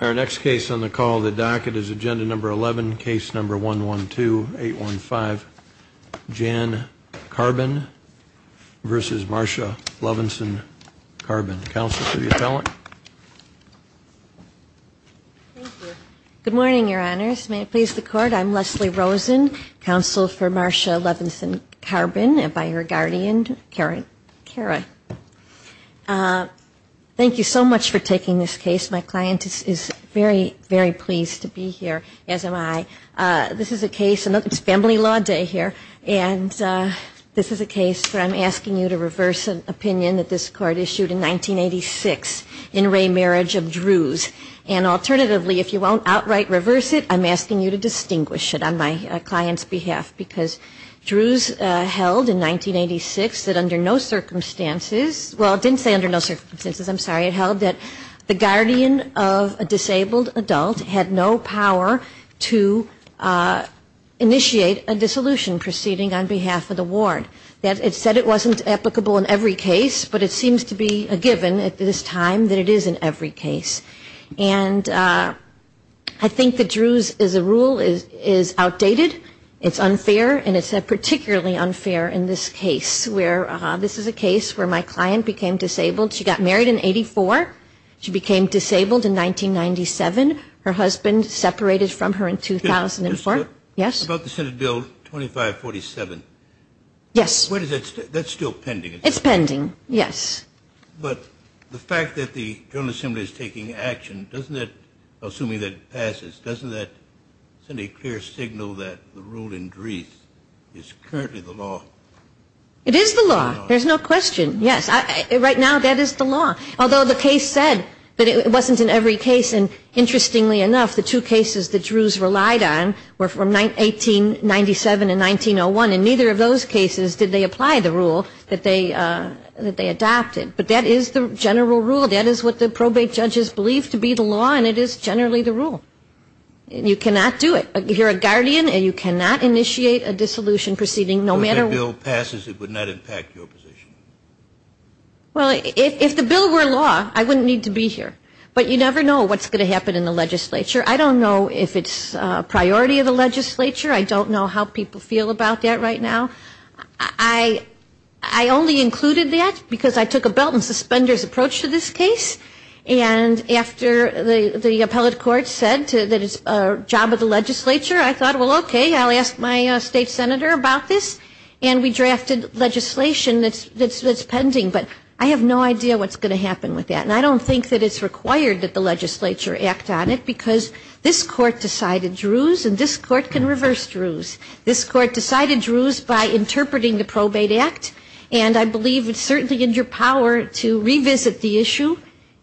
Our next case on the call of the docket is agenda number 11, case number 112815, Jan Karbin v. Marsha Levenson Karbin. Counsel for the appellant. Good morning, Your Honors. May it please the Court, I'm Leslie Rosen, counsel for Marsha Levenson Karbin by her guardian, Karen. Thank you so much for taking this case. My client is very, very pleased to be here, as am I. This is a case, and it's family law day here, and this is a case where I'm asking you to reverse an opinion that this Court issued in 1986 in Ray Marriage of Drews. And alternatively, if you won't outright reverse it, I'm asking you to distinguish it on my client's behalf, because Drews held in 1986 that under no circumstances well, it didn't say under no circumstances, I'm sorry, it held that the guardian of a disabled adult had no power to initiate a dissolution proceeding on behalf of the ward. It said it wasn't applicable in every case, but it seems to be a given at this time that it is in every case. And I think that Drews as a rule is outdated, it's unfair, and it's particularly unfair in this case, where this is a case where my client became disabled. She got married in 84. She became disabled in 1997. Her husband separated from her in 2004. Yes? About the Senate Bill 2547. Yes. That's still pending. It's pending, yes. But the fact that the General Assembly is taking action, doesn't that, assuming that it passes, doesn't that send a clear signal that the rule in Drews is currently the law? No, it's not the law. It's the rule that was adopted in 1997 and 1901. In neither of those cases did they apply the rule that they adopted. But that is the general rule. That is what the probate judges believe to be the law, and it is generally the rule. You cannot do it. You're a guardian, and you cannot initiate a dissolution proceeding, no matter what. If that bill passes, it would not impact your position. Well, if the bill were law, I wouldn't need to be here. But you never know what's going to happen in the legislature. I don't know if it's a priority of the legislature. I don't know how people feel about that right now. I only included that because I took a belt and suspenders approach to this case. And after the appellate court said that it's a job of the legislature, I thought, well, okay, I'll ask my state senator about this. And we drafted legislation that's pending. But I have no idea what's going to happen with that. And I don't think that it's required that the legislature act on it, because this court decided Druze, and this court can reverse Druze. This court decided Druze by interpreting the Probate Act. And I believe it's certainly in your power to revisit the issue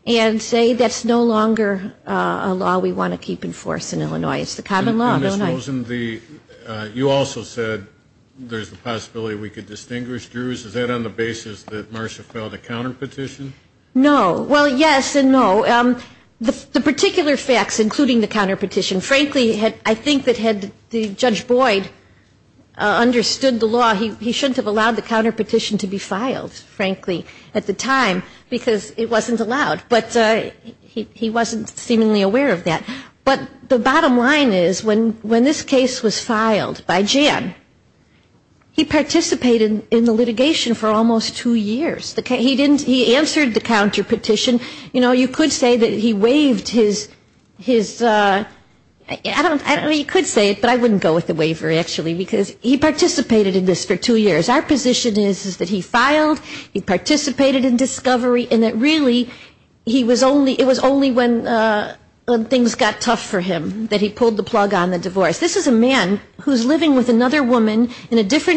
and say that's no longer a law we want to keep in force in Illinois. It's the common law, don't I? And I suppose in the you also said there's the possibility we could distinguish Druze. Is that on the basis that Marcia filed a counterpetition? No. Well, yes and no. The particular facts, including the counterpetition, frankly, I think that had Judge Boyd understood the law, he shouldn't have allowed the counterpetition to be filed. But this case was filed by Jan. He participated in the litigation for almost two years. He answered the counterpetition. You know, you could say that he waived his, I don't know, you could say it, but I wouldn't go with the waiver, actually, because he is a man who's living with another woman in a different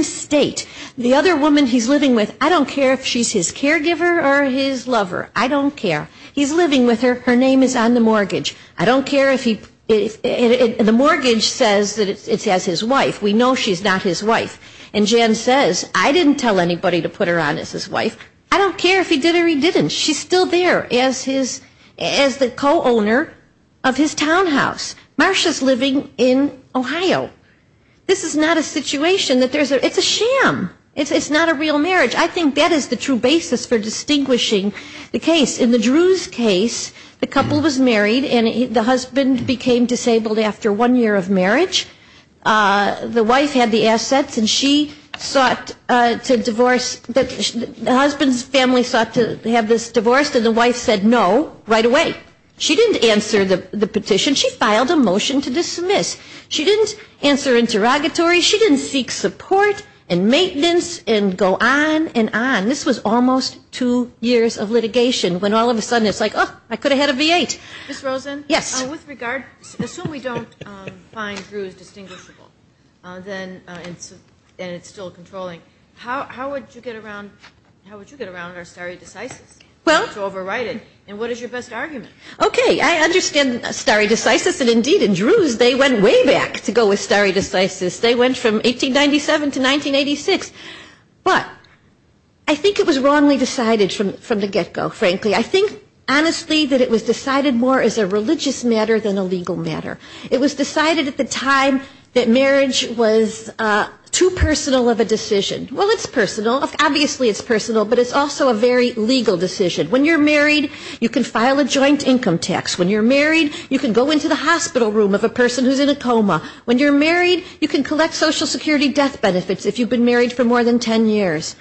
state. The other woman he's living with, I don't care if she's his caregiver or his lover. I don't care. He's living with her. Her name is on the mortgage. I don't care if he, the mortgage says that it's as his wife. We know she's not his wife. And Jan says, I didn't tell anybody to put her on as his wife. I don't care if he did or he didn't. She's still there as the co-owner of his townhouse. Marsha's living in Ohio. This is not a situation that there's a, it's a sham. It's not a real marriage. I think that is the true basis for distinguishing the case. In the Drew's case, the couple was married and the husband became disabled after one year of marriage. The wife had the assets and she sought to divorce, the husband's family sought to have this divorced and the wife said no right away. She didn't answer the petition. She filed a motion to dismiss. She didn't answer interrogatory. She didn't seek support and maintenance and go on and on. This was almost two years of litigation when all of a sudden it's like, oh, I could have had a V-8. Ms. Rosen, with regard, assume we don't find Drew's distinguishable and it's still controlling. How would you get around our stare decisis to overwrite it? And what is your best argument? Okay, I understand stare decisis and indeed in Drew's they went way back to go with stare decisis. They went from 1897 to 1986. But I think it was wrongly decided from the get go, frankly. I think honestly that it was decided more as a religious matter than a legal matter. It was decided at the time that marriage was too personal of a decision. Well, it's personal, obviously it's personal, but it's also a very legal decision. When you're married, you can file a joint income tax. When you're married, you can go into the hospital room of a person who's in a coma. When you're married, you can collect Social Security death benefits if you've been married for more than ten years.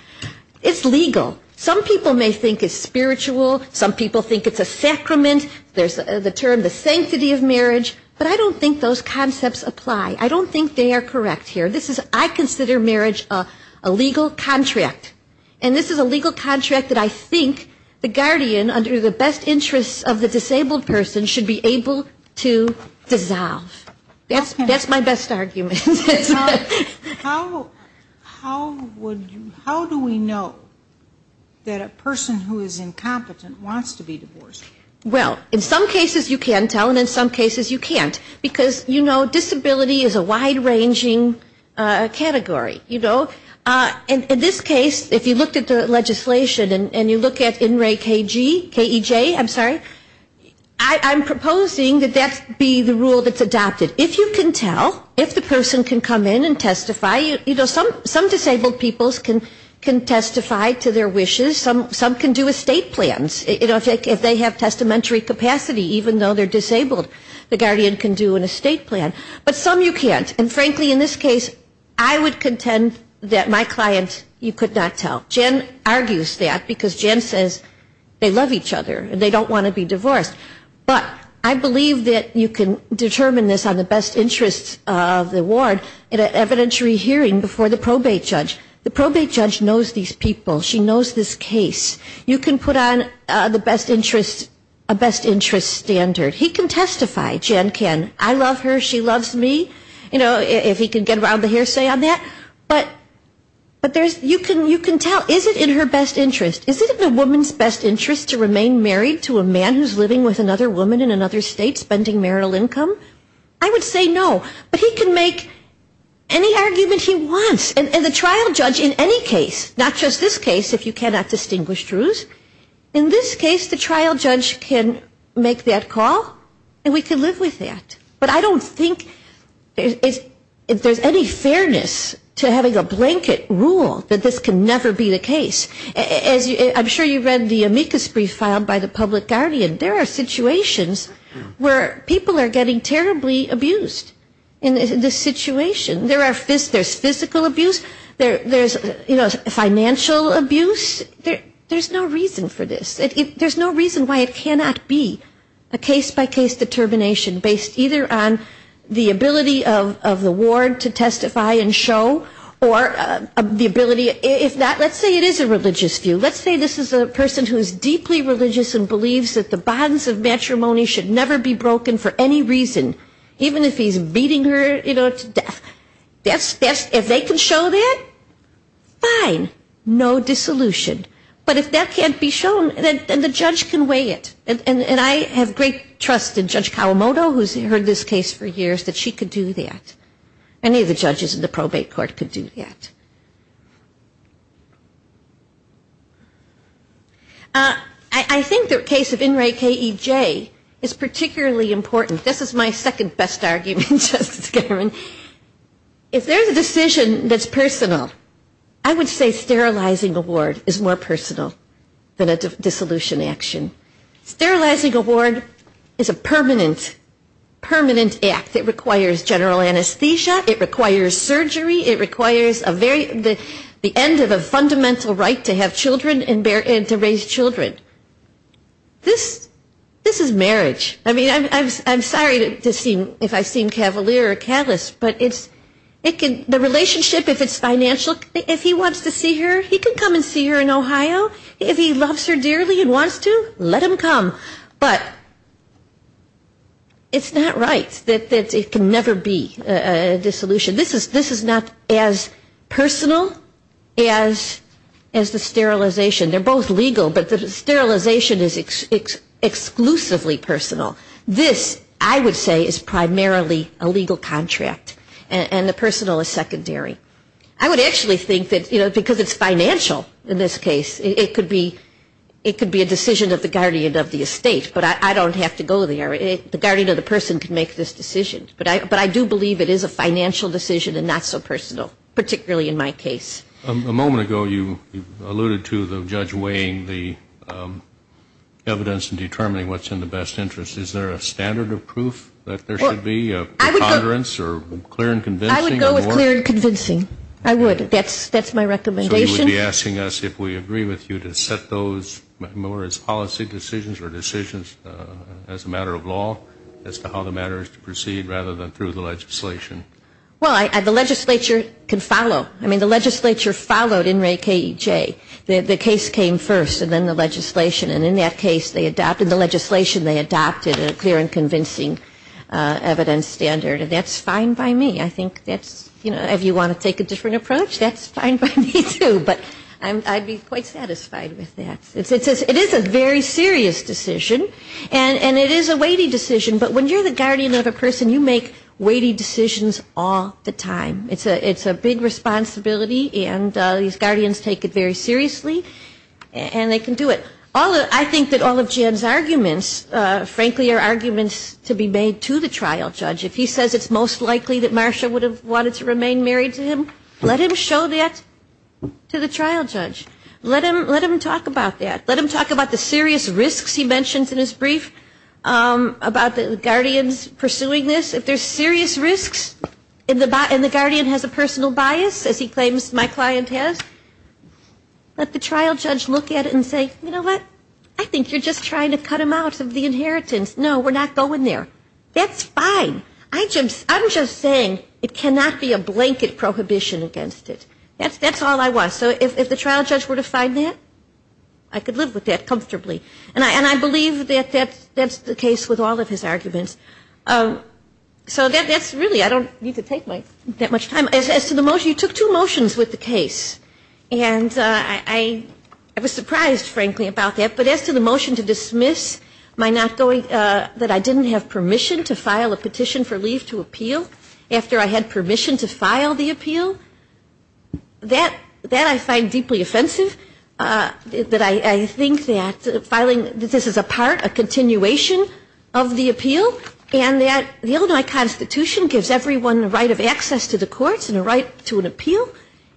It's legal. Some people may think it's spiritual. Some people think it's a sacrament. There's the term the sanctity of marriage. But I don't think those concepts apply. I don't think they are correct here. I consider marriage a legal contract. And this is a legal contract that I think the guardian under the best interests of the disabled person should be able to dissolve. That's my best argument. How do we know that a person who is incompetent wants to be divorced? Well, in some cases you can tell and in some cases you can't. Because, you know, disability is a wide-ranging category, you know. In this case, if you looked at the legislation and you look at NRAE-KEJ, I'm sorry, I'm proposing that that be the rule that's adopted. If you can tell, if the person can come in and testify, you know, some disabled people can testify to their wishes. Some can do estate plans, you know, if they have testamentary capacity, even though they're disabled. The guardian can do an estate plan, but some you can't. And frankly, in this case, I would contend that my client you could not tell. Jen argues that because Jen says they love each other and they don't want to be divorced. But I believe that you can determine this on the best interests of the ward in an evidentiary hearing before the probate judge. The probate judge knows these people. She knows this case. You can put on the best interest, a best interest standard. He can testify, Jen can. I love her, she loves me. You know, if he can get around the hearsay on that. But there's, you can tell, is it in her best interest? Is it in a woman's best interest to remain married to a man who's living with another woman in another state spending marital income? I would say no. But he can make any argument he wants. And the trial judge in any case, not just this case, if you cannot distinguish truths, in this case the trial judge can make that call and we can live with that. But I don't think if there's any fairness to having a blanket rule that this can never be the case. I'm sure you read the amicus brief filed by the public guardian. There are situations where people are getting terribly abused in this situation. There's physical abuse, there's, you know, financial abuse. There's no reason for this. There's no reason why it cannot be a case-by-case determination based either on the ability of the ward to testify and show or the ability, if not, let's say it is a religious view. Let's say this is a person who is deeply religious and believes that the bonds of matrimony should never be broken for any reason. Even if he's beating her, you know, to death. If they can show that, fine, no dissolution. But if that can't be shown, then the judge can weigh it. And I have great trust in Judge Kawamoto, who's heard this case for years, that she could do that. Any of the judges in the probate court could do that. I think the case of In Re K E J is particularly important. This is my second best argument, Justice Ginsburg. If there's a decision that's personal, I would say sterilizing a ward is more personal than a dissolution action. Sterilizing a ward is a permanent, permanent act. It requires general anesthesia. It requires surgery. It requires a very, the end of a fundamental right to have children and to raise children. This is marriage. I mean, I'm sorry if I seem cavalier or callous, but the relationship, if it's financial, if he wants to see her, he can come and see her in Ohio. If he loves her dearly and wants to, let him come. But it's not right that it can never be a dissolution. This is not as personal as the sterilization. They're both legal, but the sterilization is exclusively personal. This, I would say, is primarily a legal contract. And the personal is secondary. I would actually think that, you know, because it's financial in this case, it could be a decision of the guardian of the estate. But I don't have to go there. The guardian of the person can make this decision. But I do believe it is a financial decision and not so personal, particularly in my case. A moment ago you alluded to the judge weighing the evidence and determining what's in the best interest. Is there a standard of proof that there should be, a preponderance or clear and convincing? I would. That's my recommendation. So you would be asking us if we agree with you to set those more as policy decisions or decisions as a matter of law as to how the matter is to proceed rather than through the legislation? Well, the legislature can follow. I mean, the legislature followed in Ray K.E.J. The case came first and then the legislation. And in that case they adopted the legislation, they adopted a clear and convincing evidence standard. And that's fine by me. I think that's, you know, if you want to take a different approach, that's fine by me, too. But I'd be quite satisfied with that. It is a very serious decision. And it is a weighty decision. But when you're the guardian of a person, you make weighty decisions all the time. It's a big responsibility. And these guardians take it very seriously. And they can do it. I think that all of Jen's arguments, frankly, are arguments to be made to the trial judge. If he says it's most likely that Marcia would have wanted to remain married to him, let him show that to the trial judge. Let him talk about that. Let him talk about the serious risks he mentions in his brief about the guardians pursuing this. If there's serious risks and the guardian has a personal bias, as he claims my client has, let the trial judge look at it and say, you know what? I think you're just trying to cut him out of the inheritance. No, we're not going there. That's fine. I'm just saying it cannot be a blanket prohibition against it. That's all I want. So if the trial judge were to find that, I could live with that comfortably. And I believe that that's the case with all of his arguments. So that's really, I don't need to take that much time. As to the motion, you took two motions with the case. And I was surprised, frankly, about that. But as to the motion to dismiss my not going, that I didn't have permission to file a petition for leave to appeal after I had permission to file the appeal, that I find deeply offensive, that I think that filing, that this is a part, a continuation of the appeal, and that the Illinois Constitution gives everyone a right of access to the courts and a right to an appeal.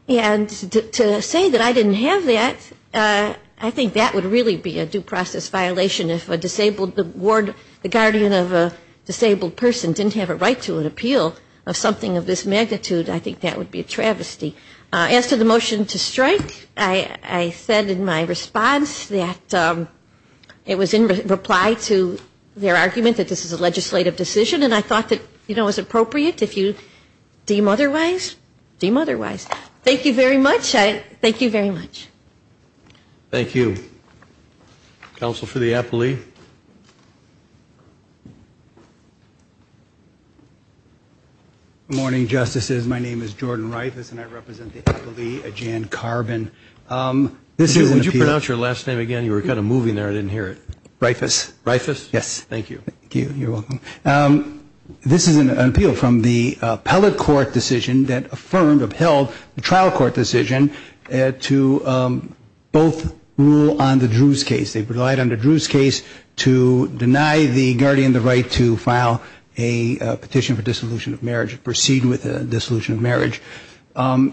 And to say that I didn't have that, I think that would really be a due process violation. If a disabled ward, the guardian of a disabled person didn't have a right to an appeal of something of this magnitude, I think that would be a travesty. As to the motion to strike, I said in my response that it was in reply to their argument that this is a legislative decision. And I thought that, you know, it was appropriate. If you deem otherwise, deem otherwise. Thank you very much. Thank you very much. Thank you. Counsel for the appellee. Good morning, Justices. My name is Jordan Reifus, and I represent the appellee, Jan Carbin. Would you pronounce your last name again? You were kind of moving there. I didn't hear it. Reifus? Yes. Thank you. This is an appeal from the appellate court decision that affirmed or upheld the trial court decision to both rule on the Drews case. They relied on the Drews case to deny the guardian the right to file a petition for dissolution of marriage or proceed with a dissolution of marriage. Over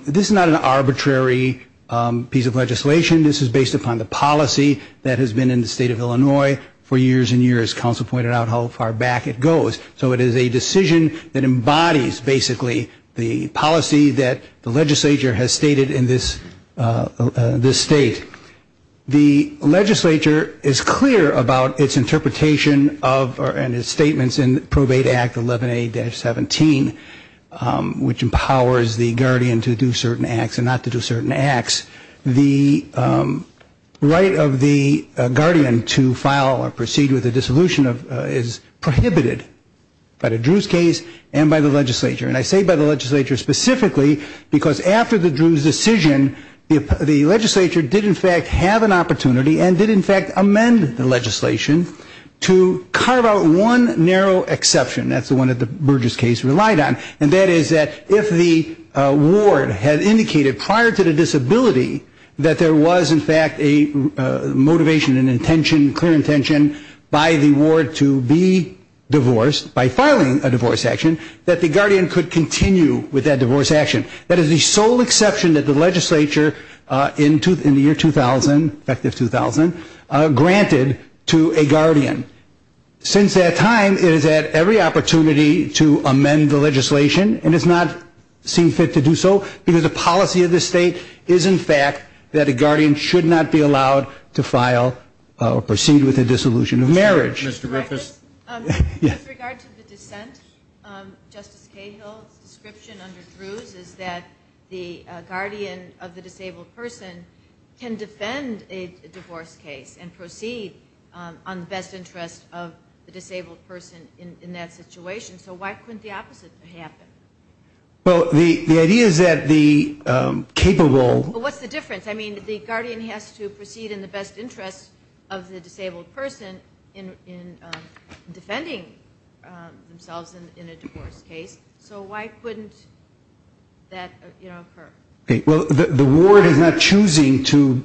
the years and years, counsel pointed out how far back it goes. So it is a decision that embodies basically the policy that the legislature has stated in this state. The legislature is clear about its interpretation of or in its statements in probate act 11A-17, which empowers the guardian to do certain acts and not to do certain acts. The right of the guardian to file or proceed with a dissolution is prohibited by the Drews case and by the legislature. And I say by the legislature specifically because after the Drews decision, the legislature did in fact have an opportunity and did in fact amend the legislation to carve out one narrow exception. That's the one that the Burgess case relied on. And that is that if the ward had indicated prior to the disability that there was in fact a motivation and intention, clear intention by the ward to be divorced, by filing a divorce action, that the guardian could continue with that divorce action. That is the sole exception that the legislature in the year 2000, effective 2000, granted to a guardian. Since that time, it has had every opportunity to amend the legislation and has not seen fit to do so because the policy of this state is in fact that a guardian should not be allowed to file or proceed with a dissolution of marriage. Mr. Griffiths? With regard to the dissent, Justice Cahill's description under Drews is that the guardian of the disabled person can defend a divorce case and proceed on the best interest of the disabled person in that situation. So why couldn't the opposite happen? Well, the idea is that the capable What's the difference? I mean, the guardian has to proceed in the best interest of the disabled person in defending themselves in a divorce case. So why couldn't that occur? Well, the ward is not choosing to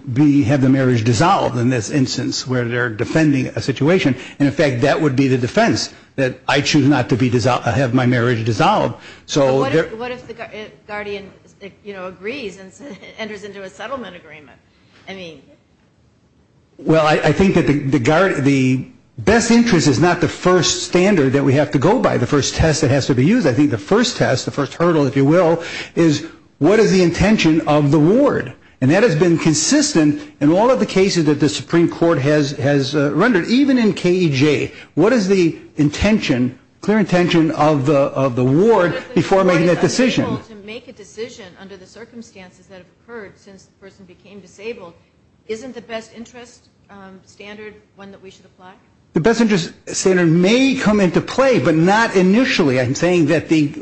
have the marriage dissolved in this instance where they're defending a situation. And in fact, that would be the defense, that I choose not to have my marriage dissolved. So what if the guardian agrees and enters into a settlement agreement? Well, I think that the best interest is not the first standard that we have to go by, the first test that has to be used. I think the first test, the first hurdle, if you will, is what is the intention of the ward? And that has been consistent in all of the cases that the Supreme Court has rendered, even in KEJ. What is the intention, clear intention of the ward before making that decision? To make a decision under the circumstances that have occurred since the person became disabled, isn't the best interest standard one that we should apply? The best interest standard may come into play, but not initially. I'm saying that the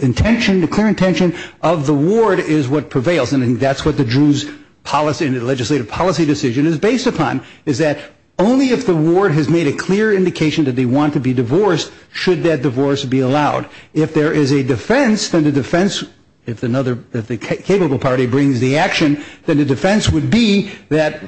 intention, the clear intention of the ward is what prevails. And I think that's what the Druze legislative policy decision is based upon, is that only if the ward has made a clear indication that they want to be divorced should that divorce be allowed. If there is a defense, then the defense, if the capable party brings the action, then the defense would be that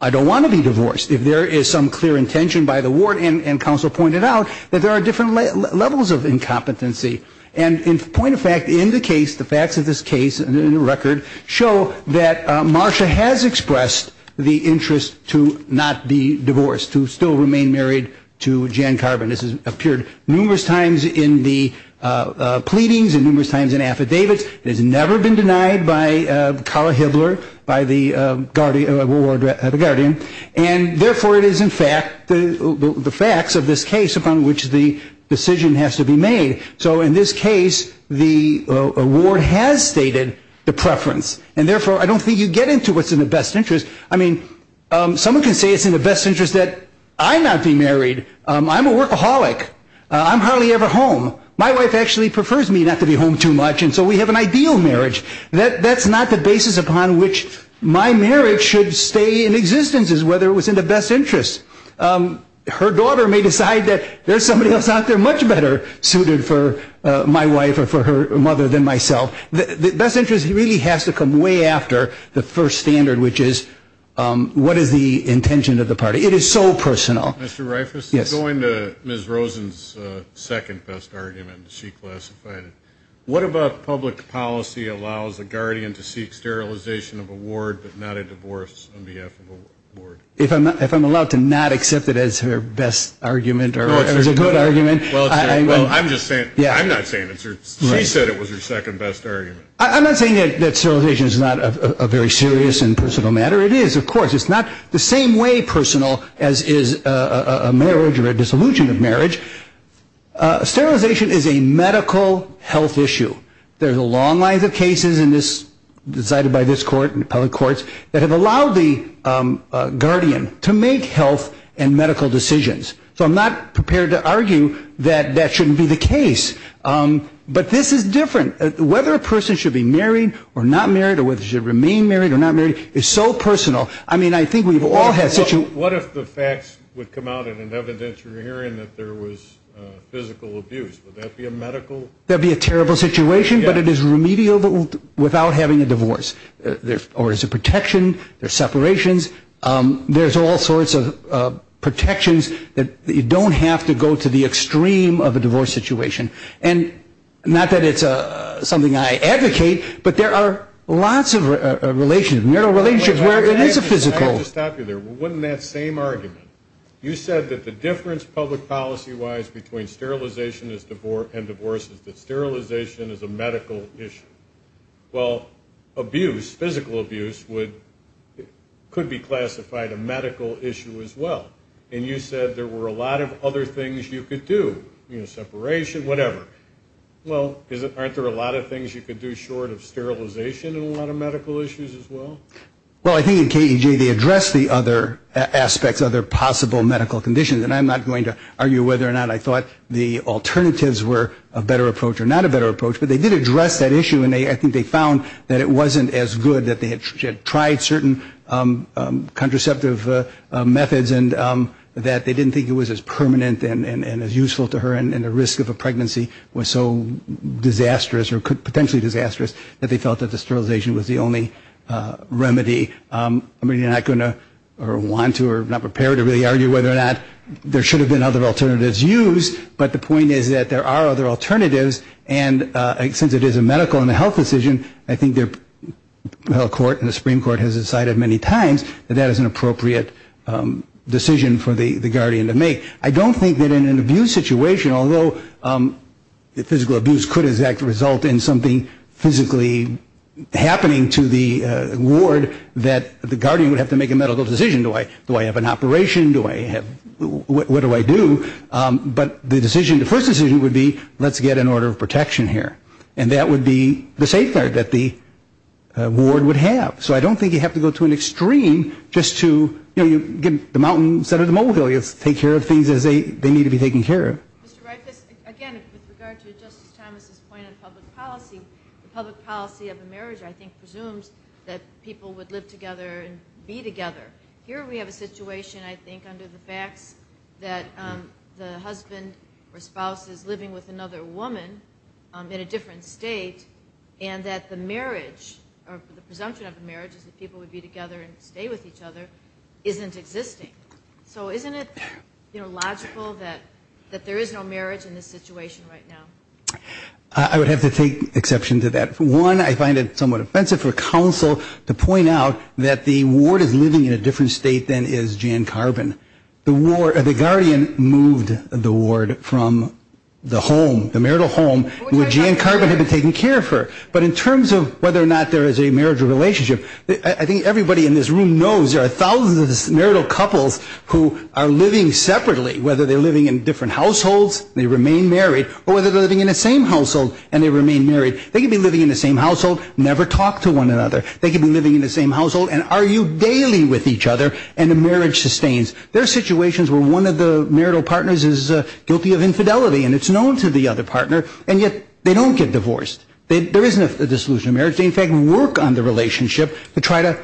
I don't want to be divorced. If there is some clear intention by the ward, and counsel pointed out, that there are different levels of incompetency. And point of fact, in the case, the facts of this case in the record show that Marcia has expressed the interest to not be divorced, to still remain married to Jan Carbon. This has appeared numerous times in the pleadings and numerous times in affidavits. It has never been denied by Carla Hibbler, by the guardian. And therefore, it is in fact the facts of this case upon which the decision has to be made. So in this case, the ward has stated the preference. And therefore, I don't think you get into what's in the best interest. I mean, someone can say it's in the best interest that I not be married. I'm a workaholic. I'm hardly ever home. My wife actually prefers me not to be home too much, and so we have an ideal marriage. That's not the basis upon which my marriage should stay in existence, is whether it was in the best interest. Her daughter may decide that there's somebody else out there much better suited for my wife or for her mother than myself. The best interest really has to come way after the first standard, which is what is the intention of the party. It is so personal. Mr. Reifus, going to Ms. Rosen's second best argument, she classified it. What about public policy allows a guardian to seek sterilization of a ward, but not a divorce on behalf of a ward? If I'm allowed to not accept it as her best argument or as a good argument. Well, I'm just saying, I'm not saying it's her, she said it was her second best argument. I'm not saying that sterilization is not a very serious and personal matter. Whether it is, of course, it's not the same way personal as is a marriage or a dissolution of marriage. Sterilization is a medical health issue. There's a long line of cases in this, decided by this court and public courts, that have allowed the guardian to make health and medical decisions. So I'm not prepared to argue that that shouldn't be the case. But this is different. Whether a person should be married or not married or whether they should remain married or not married is so personal. I mean, I think we've all had situations. What if the facts would come out in an evidence you're hearing that there was physical abuse? Would that be a medical? That would be a terrible situation, but it is remedial without having a divorce. There's a protection, there's separations. There's all sorts of protections that you don't have to go to the extreme of a divorce situation. Not that it's something I advocate, but there are lots of relations, marital relations where there is a physical. I have to stop you there. Wasn't that same argument? You said that the difference public policy-wise between sterilization and divorce is that sterilization is a medical issue. Well, abuse, physical abuse, could be classified a medical issue as well. And you said there were a lot of other things you could do, you know, separation, whatever. Well, aren't there a lot of things you could do short of sterilization and a lot of medical issues as well? Well, I think in KEJ they addressed the other aspects, other possible medical conditions. And I'm not going to argue whether or not I thought the alternatives were a better approach or not a better approach. But they did address that issue, and I think they found that it wasn't as good, that they had tried certain contraceptive methods and that they didn't think it was as permanent and as useful to her and the risk of a pregnancy was so disastrous or potentially disastrous that they felt that the sterilization was the only remedy. I'm really not going to or want to or am not prepared to really argue whether or not there should have been other alternatives used, but the point is that there are other alternatives. And since it is a medical and a health decision, I think the Supreme Court has decided many times that that is an appropriate decision for the guardian to make. I don't think that in an abuse situation, although physical abuse could result in something physically happening to the ward, that the guardian would have to make a medical decision. Do I have an operation? What do I do? But the first decision would be, let's get an order of protection here. And that would be the safeguard that the ward would have. So I don't think you have to go to an extreme just to get the mountains out of the molehill. You have to take care of things as they need to be taken care of. Mr. Reifus, again, with regard to Justice Thomas's point on public policy, the public policy of a marriage, I think, presumes that people would live together and be together. Here we have a situation, I think, under the facts, that the husband or spouse is living with another woman in a different state, and that the marriage or the presumption of the marriage is that people would be together and stay with each other isn't existing. So isn't it, you know, logical that there is no marriage in this situation right now? I would have to take exception to that. One, I find it somewhat offensive for counsel to point out that the ward is living in a different state than is Jan Carbon. The guardian moved the ward from the home, the marital home, which Jan Carbon had been taking care of her. But in terms of whether or not there is a marriage or relationship, I think everybody in this room knows there are thousands of marital couples who are living separately, whether they're living in different households, they remain married, or whether they're living in the same household and they remain married. They could be living in the same household, never talk to one another. They could be living in the same household and argue daily with each other, and the marriage sustains. There are situations where one of the marital partners is guilty of infidelity, and it's known to the other partner, and yet they don't get divorced. There isn't a dissolution of marriage. They, in fact, work on the relationship to try to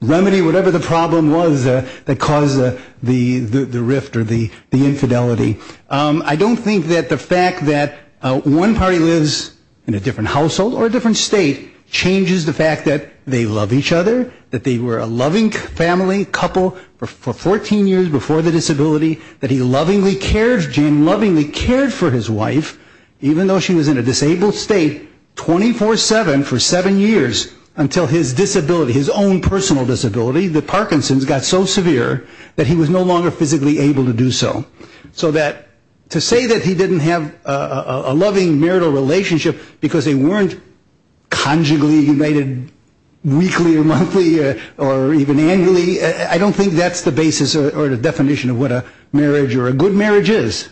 remedy whatever the problem was that caused the rift or the infidelity. I don't think that the fact that one party lives in a different household or a different state changes the fact that they love each other, that they were a loving family couple for 14 years before the disability, that he lovingly cared, Jan lovingly cared for his wife, even though she was in a disabled state 24-7 for seven years until his disability, his own personal disability, the Parkinson's, got so severe that he was no longer physically able to do so. To say that he didn't have a loving marital relationship because they weren't conjugally united weekly or monthly or even annually, I don't think that's the basis or the definition of what a marriage or a good marriage is.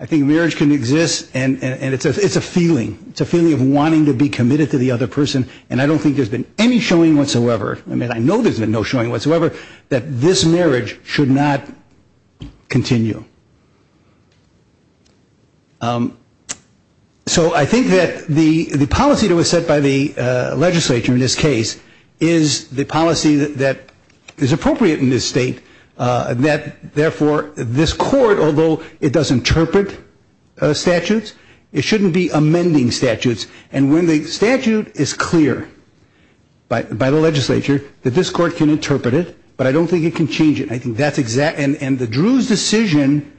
I think marriage can exist, and it's a feeling. It's a feeling of wanting to be committed to the other person, and I don't think there's been any showing whatsoever. I mean, I know there's been no showing whatsoever that this marriage should not continue. So I think that the policy that was set by the legislature in this case is the policy that is appropriate in this state, that therefore this court, although it does interpret statutes, it shouldn't be amending statutes, and when the statute is clear by the legislature, that this court can interpret it, but I don't think it can change it. I think that's exact, and the Drew's decision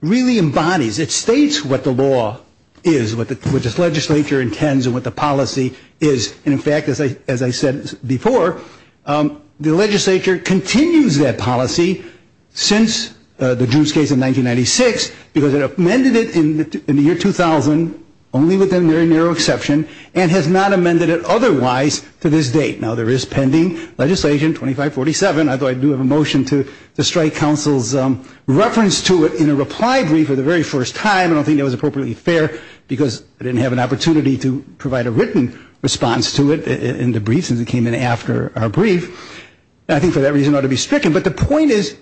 really embodies, it states what the law is, what this legislature intends, and what the policy is, and in fact, as I said before, the legislature continues that policy since the Drew's case in 1996, because it amended it in the year 2000, only with a very narrow exception, and has not amended it otherwise to this date. Now, there is pending legislation, 2547, although I do have a motion to strike counsel's reference to it in a reply brief for the very first time. I don't think that was appropriately fair, because I didn't have an opportunity to provide a written response to it in the brief, since it came in after our brief, and I think for that reason it ought to be stricken. But the point is,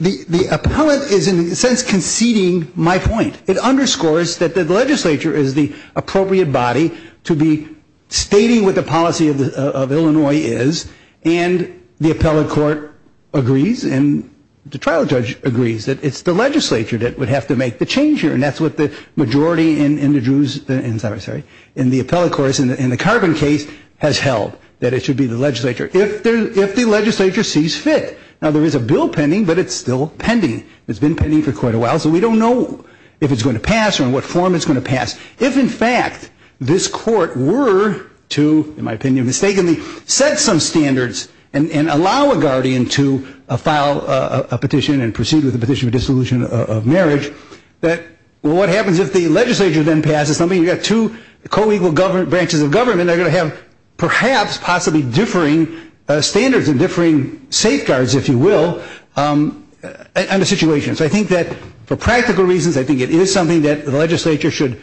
the appellate is in a sense conceding my point. It underscores that the legislature is the appropriate body to be stating what the policy of Illinois is, and the appellate court agrees, and the trial judge agrees that it's the legislature that would have to make the change here, and that's what the majority in the Drew's, sorry, in the appellate court, in the Carbon case, has held, that it should be the legislature, if the legislature sees fit. Now, there is a bill pending, but it's still pending. It's been pending for quite a while, so we don't know if it's going to pass or in what form it's going to pass. If, in fact, this court were to, in my opinion, mistakenly set some standards and allow a guardian to file a petition and proceed with a petition for dissolution of marriage, what happens if the legislature then passes something? You've got two co-equal branches of government that are going to have perhaps possibly differing standards and differing safeguards, if you will, on the situation. So I think that for practical reasons, I think it is something that the legislature should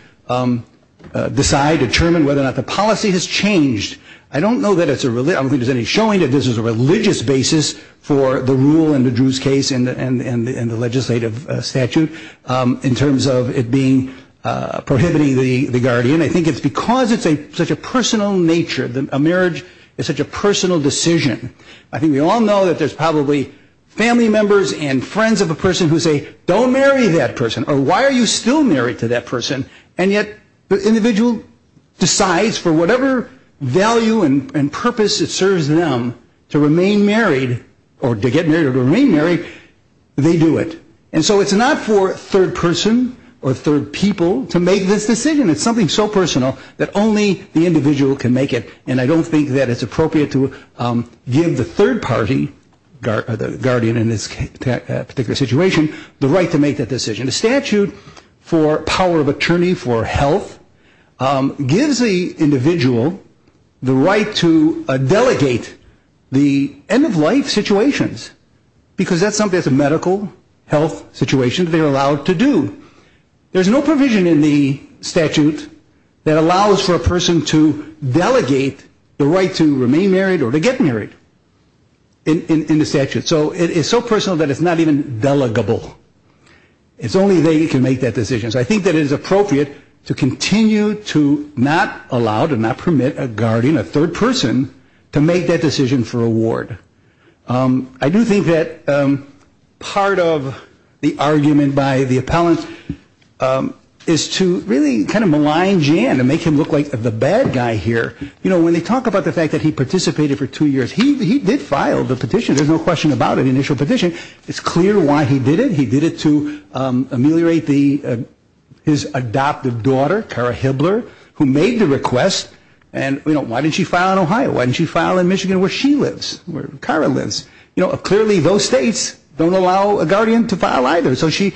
decide, determine whether or not the policy has changed. I don't know that it's a religious, I don't think there's any showing that this is a religious basis for the rule in the Drew's case and the legislative statute in terms of it being, prohibiting the guardian. I think it's because it's such a personal nature, a marriage is such a personal decision. I think we all know that there's probably family members and friends of a person who say, don't marry that person, or why are you still married to that person, and yet the individual decides for whatever value and purpose it serves them to remain married or to get married or to remain married, they do it. And so it's not for a third person or third people to make this decision. It's something so personal that only the individual can make it, and I don't think that it's appropriate to give the third party, the guardian in this particular situation, the right to make that decision. The statute for power of attorney for health gives the individual the right to delegate the end of life situations because that's something that's a medical health situation they're allowed to do. There's no provision in the statute that allows for a person to delegate the right to remain married or to get married in the statute, so it's so personal that it's not even delegable. It's only they who can make that decision, so I think that it is appropriate to continue to not allow, to not permit a guardian, a third person, to make that decision for a ward. I do think that part of the argument by the appellant is to really kind of malign Jan and make him look like the bad guy here. You know, when they talk about the fact that he participated for two years, he did file the petition. There's no question about it, initial petition. It's clear why he did it. He did it to ameliorate his adoptive daughter, Cara Hibbler, who made the request. And, you know, why didn't she file in Ohio? Why didn't she file in Michigan where she lives, where Cara lives? Clearly those states don't allow a guardian to file either, so she,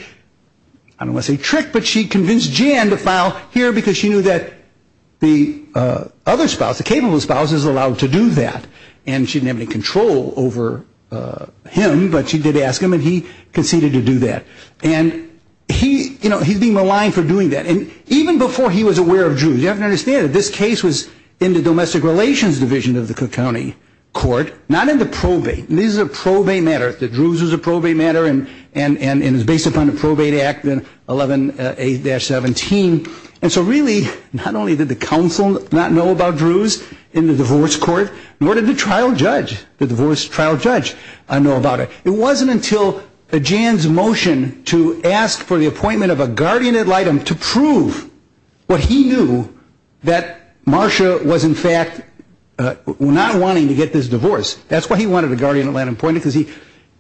I don't want to say tricked, but she convinced Jan to file here because she knew that the other spouse, the capable spouse, is allowed to do that and she didn't have any control over him, but she did ask him and he conceded to do that. And he, you know, he's being maligned for doing that. And even before he was aware of Druze, you have to understand that this case was in the domestic relations division of the Cook County court, not in the probate. This is a probate matter, the Druze is a probate matter, and it's based upon the Probate Act 11A-17. And so really not only did the counsel not know about Druze in the divorce court, nor did the trial judge, the divorce trial judge, know about it. It wasn't until Jan's motion to ask for the appointment of a guardian ad litem to prove what he knew, that Marsha was in fact not wanting to get this divorce. That's why he wanted a guardian ad litem appointed because he,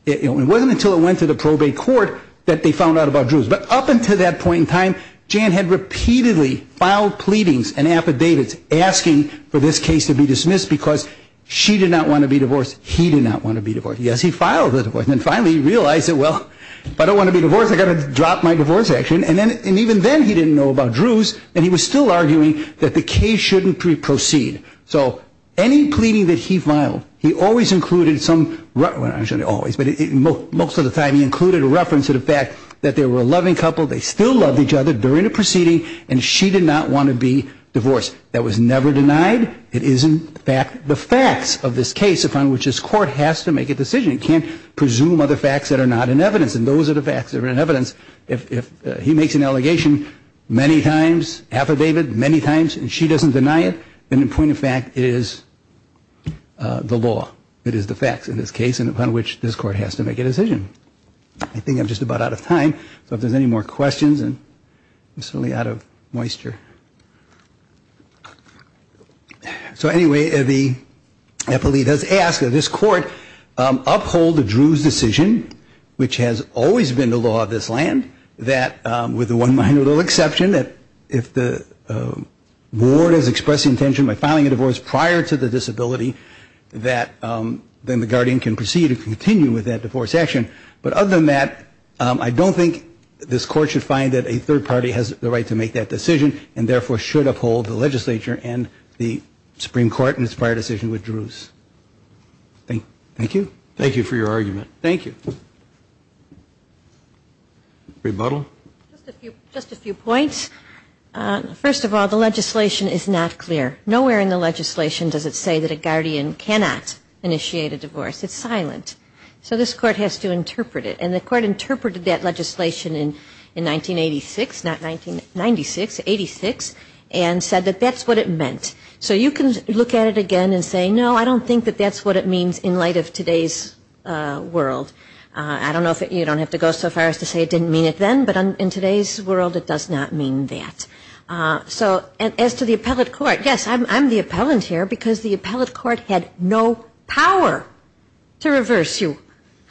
you know, it wasn't until it went to the probate court that they found out about Druze. But up until that point in time, Jan had repeatedly filed pleadings and affidavits asking for this case to be dismissed because she did not want to be divorced, he did not want to be divorced. Yes, he filed the divorce, and then finally he realized that, well, if I don't want to be divorced, I've got to drop my divorce action. And even then he didn't know about Druze, and he was still arguing that the case shouldn't proceed. So any pleading that he filed, he always included some, well, not always, but most of the time he included a reference to the fact that they were a loving couple, they still loved each other during the proceeding, and she did not want to be divorced. That was never denied. It is in fact the facts of this case upon which this court has to make a decision. It can't presume other facts that are not in evidence, and those are the facts that are in evidence. If he makes an allegation many times, affidavit many times, and she doesn't deny it, then in point of fact it is the law, it is the facts in this case upon which this court has to make a decision. I think I'm just about out of time, so if there's any more questions, and I'm certainly out of moisture. So anyway, the appellee does ask that this court uphold the Druze decision, which has always been the law of this land, that with the one minor little exception, that if the ward is expressing intention by filing a divorce prior to the disability, that then the guardian can proceed to continue with that divorce action. But other than that, I don't think this court should find that a third party has the right to make that decision, and therefore should uphold the legislature and the Supreme Court in its prior decision with Druze. Thank you. Thank you for your argument. Thank you. Rebuttal. Just a few points. First of all, the legislation is not clear. Nowhere in the legislation does it say that a guardian cannot initiate a divorce. It's silent. So this court has to interpret it. And the court interpreted that legislation in 1986, not 1996, 86, and said that that's what it meant. So you can look at it again and say, no, I don't think that that's what it means in light of today's world. I don't know if you don't have to go so far as to say it didn't mean it then, but in today's world it does not mean that. So as to the appellate court, yes, I'm the appellant here because the appellate court had no power to reverse you.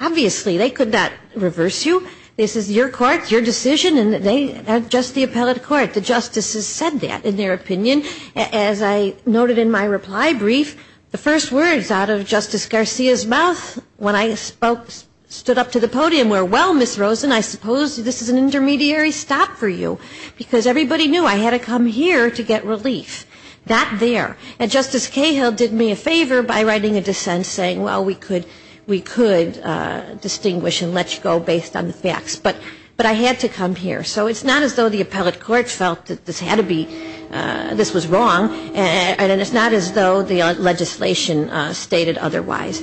Obviously, they could not reverse you. This is your court, your decision, and they are just the appellate court. The justices said that in their opinion. As I noted in my reply brief, the first words out of Justice Garcia's mouth when I spoke stood up to the podium were, well, Ms. Rosen, I suppose this is an intermediary stop for you, because everybody knew I had to come here to get relief. Not there. And Justice Cahill did me a favor by writing a dissent saying, well, we could distinguish and let you go based on the facts. But I had to come here. So it's not as though the appellate court felt that this was wrong, and it's not as though the legislation stated otherwise.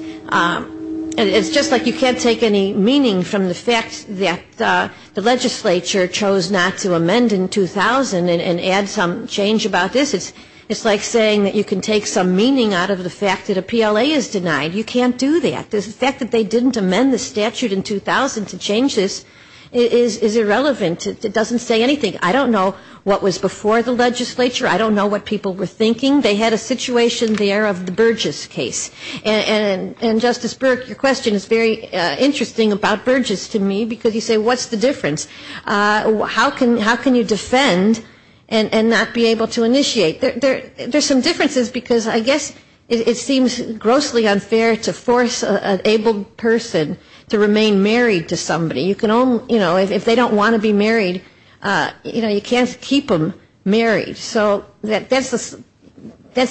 It's just like you can't take any meaning from the fact that the legislature chose not to amend in 2000 and add some change about this. It's like saying that you can take some meaning out of the fact that a PLA is denied. You can't do that. The fact that they didn't amend the statute in 2000 to change this is irrelevant. It doesn't say anything. I don't know what was before the legislature. I don't know what people were thinking. They had a situation there of the Burgess case. And, Justice Burke, your question is very interesting about Burgess to me, because you say, what's the difference? How can you defend and not be able to initiate? There's some differences, because I guess it seems grossly unfair to force an abled person to remain married to somebody. If they don't want to be married, you can't keep them married. So that's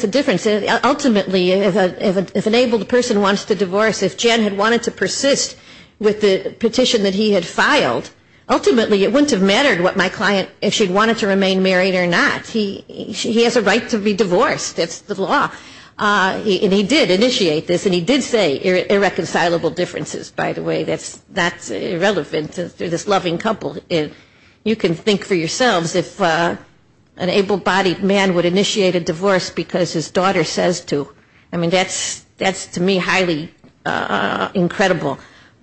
the difference. Ultimately, if an abled person wants to divorce, if Jen had wanted to persist with the petition that he had filed, ultimately, it wouldn't have mattered what my client, if she wanted to remain married or not. He has a right to be divorced. That's the law. And he did initiate this, and he did say irreconcilable differences, by the way. That's irrelevant. They're this loving couple. You can think for yourselves if an abled-bodied man would initiate a divorce because his daughter says to. I mean, that's, to me, highly incredible.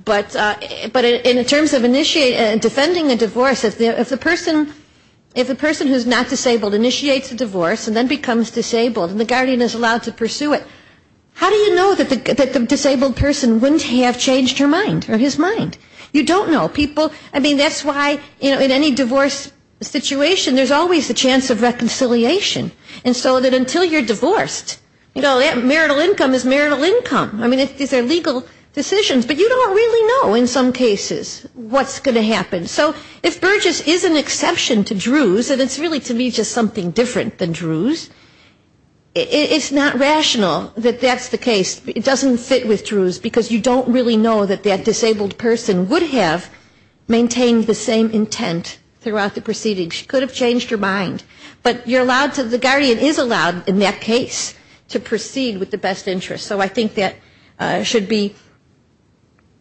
But in terms of initiating, defending a divorce, if the person who's not disabled initiates a divorce and then becomes disabled and the guardian is allowed to pursue it, how do you know that the disabled person wouldn't have changed her mind or his mind? You don't know. People, I mean, that's why in any divorce situation, there's always the chance of reconciliation. And so until you're divorced, you know, marital income is marital income. I mean, these are legal decisions, but you don't really know in some cases what's going to happen. So if Burgess is an exception to Druze, and it's really, to me, just something different than Druze, it's not rational that that's the case. It doesn't fit with Druze, because you don't really know that that disabled person would have maintained the same intent throughout the proceedings. She could have changed her mind, but you're allowed to, the guardian is allowed in that case to proceed with the best interest. So I think that should be,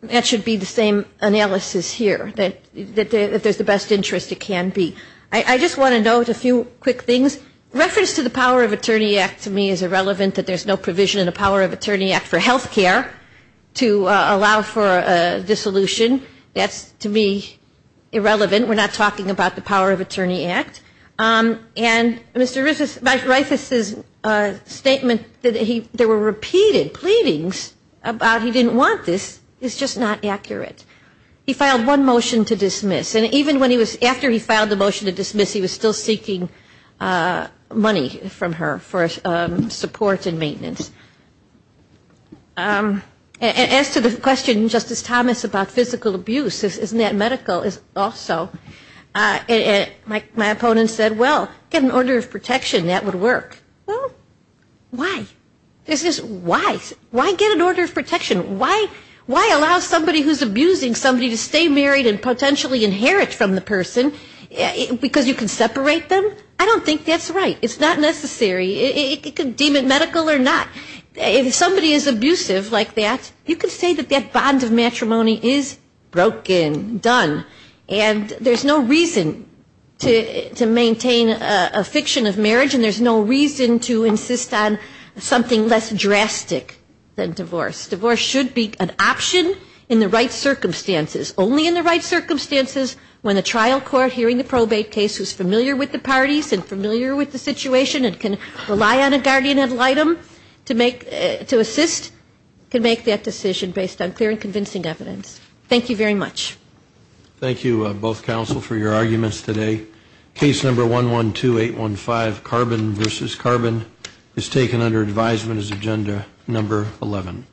that should be the same analysis here, that if there's the best interest, it can be. I just want to note a few quick things. Reference to the Power of Attorney Act, to me, is irrelevant, that there's no provision in the Power of Attorney Act for health care to allow for health care. And Mr. Reifus's statement that there were repeated pleadings about he didn't want this is just not accurate. He filed one motion to dismiss, and even when he was, after he filed the motion to dismiss, he was still seeking money from her for support and maintenance. And as to the question, Justice Thomas, about physical abuse, isn't that medical also? My opponent said, well, get an order of protection, that would work. Well, why? Why get an order of protection? Why allow somebody who's abusing somebody to stay married and potentially inherit from the person, because you can separate them? I don't think that's right. It's not necessary. It could deem it medical or not. If somebody is abusive like that, you can say that that bond of matrimony is broken, done. And there's no reason to maintain a fiction of marriage, and there's no reason to insist on something less drastic than divorce. Divorce should be an option in the right circumstances. Only in the right circumstances when the trial court hearing the probate case is familiar with the parties and familiar with the situation and can rely on a guardian ad litem to assist, can make that decision based on clear and convincing evidence. Thank you very much. Thank you, both counsel, for your arguments today. Case number 112815, Carbon v. Carbon, is taken under advisement as agenda number 11.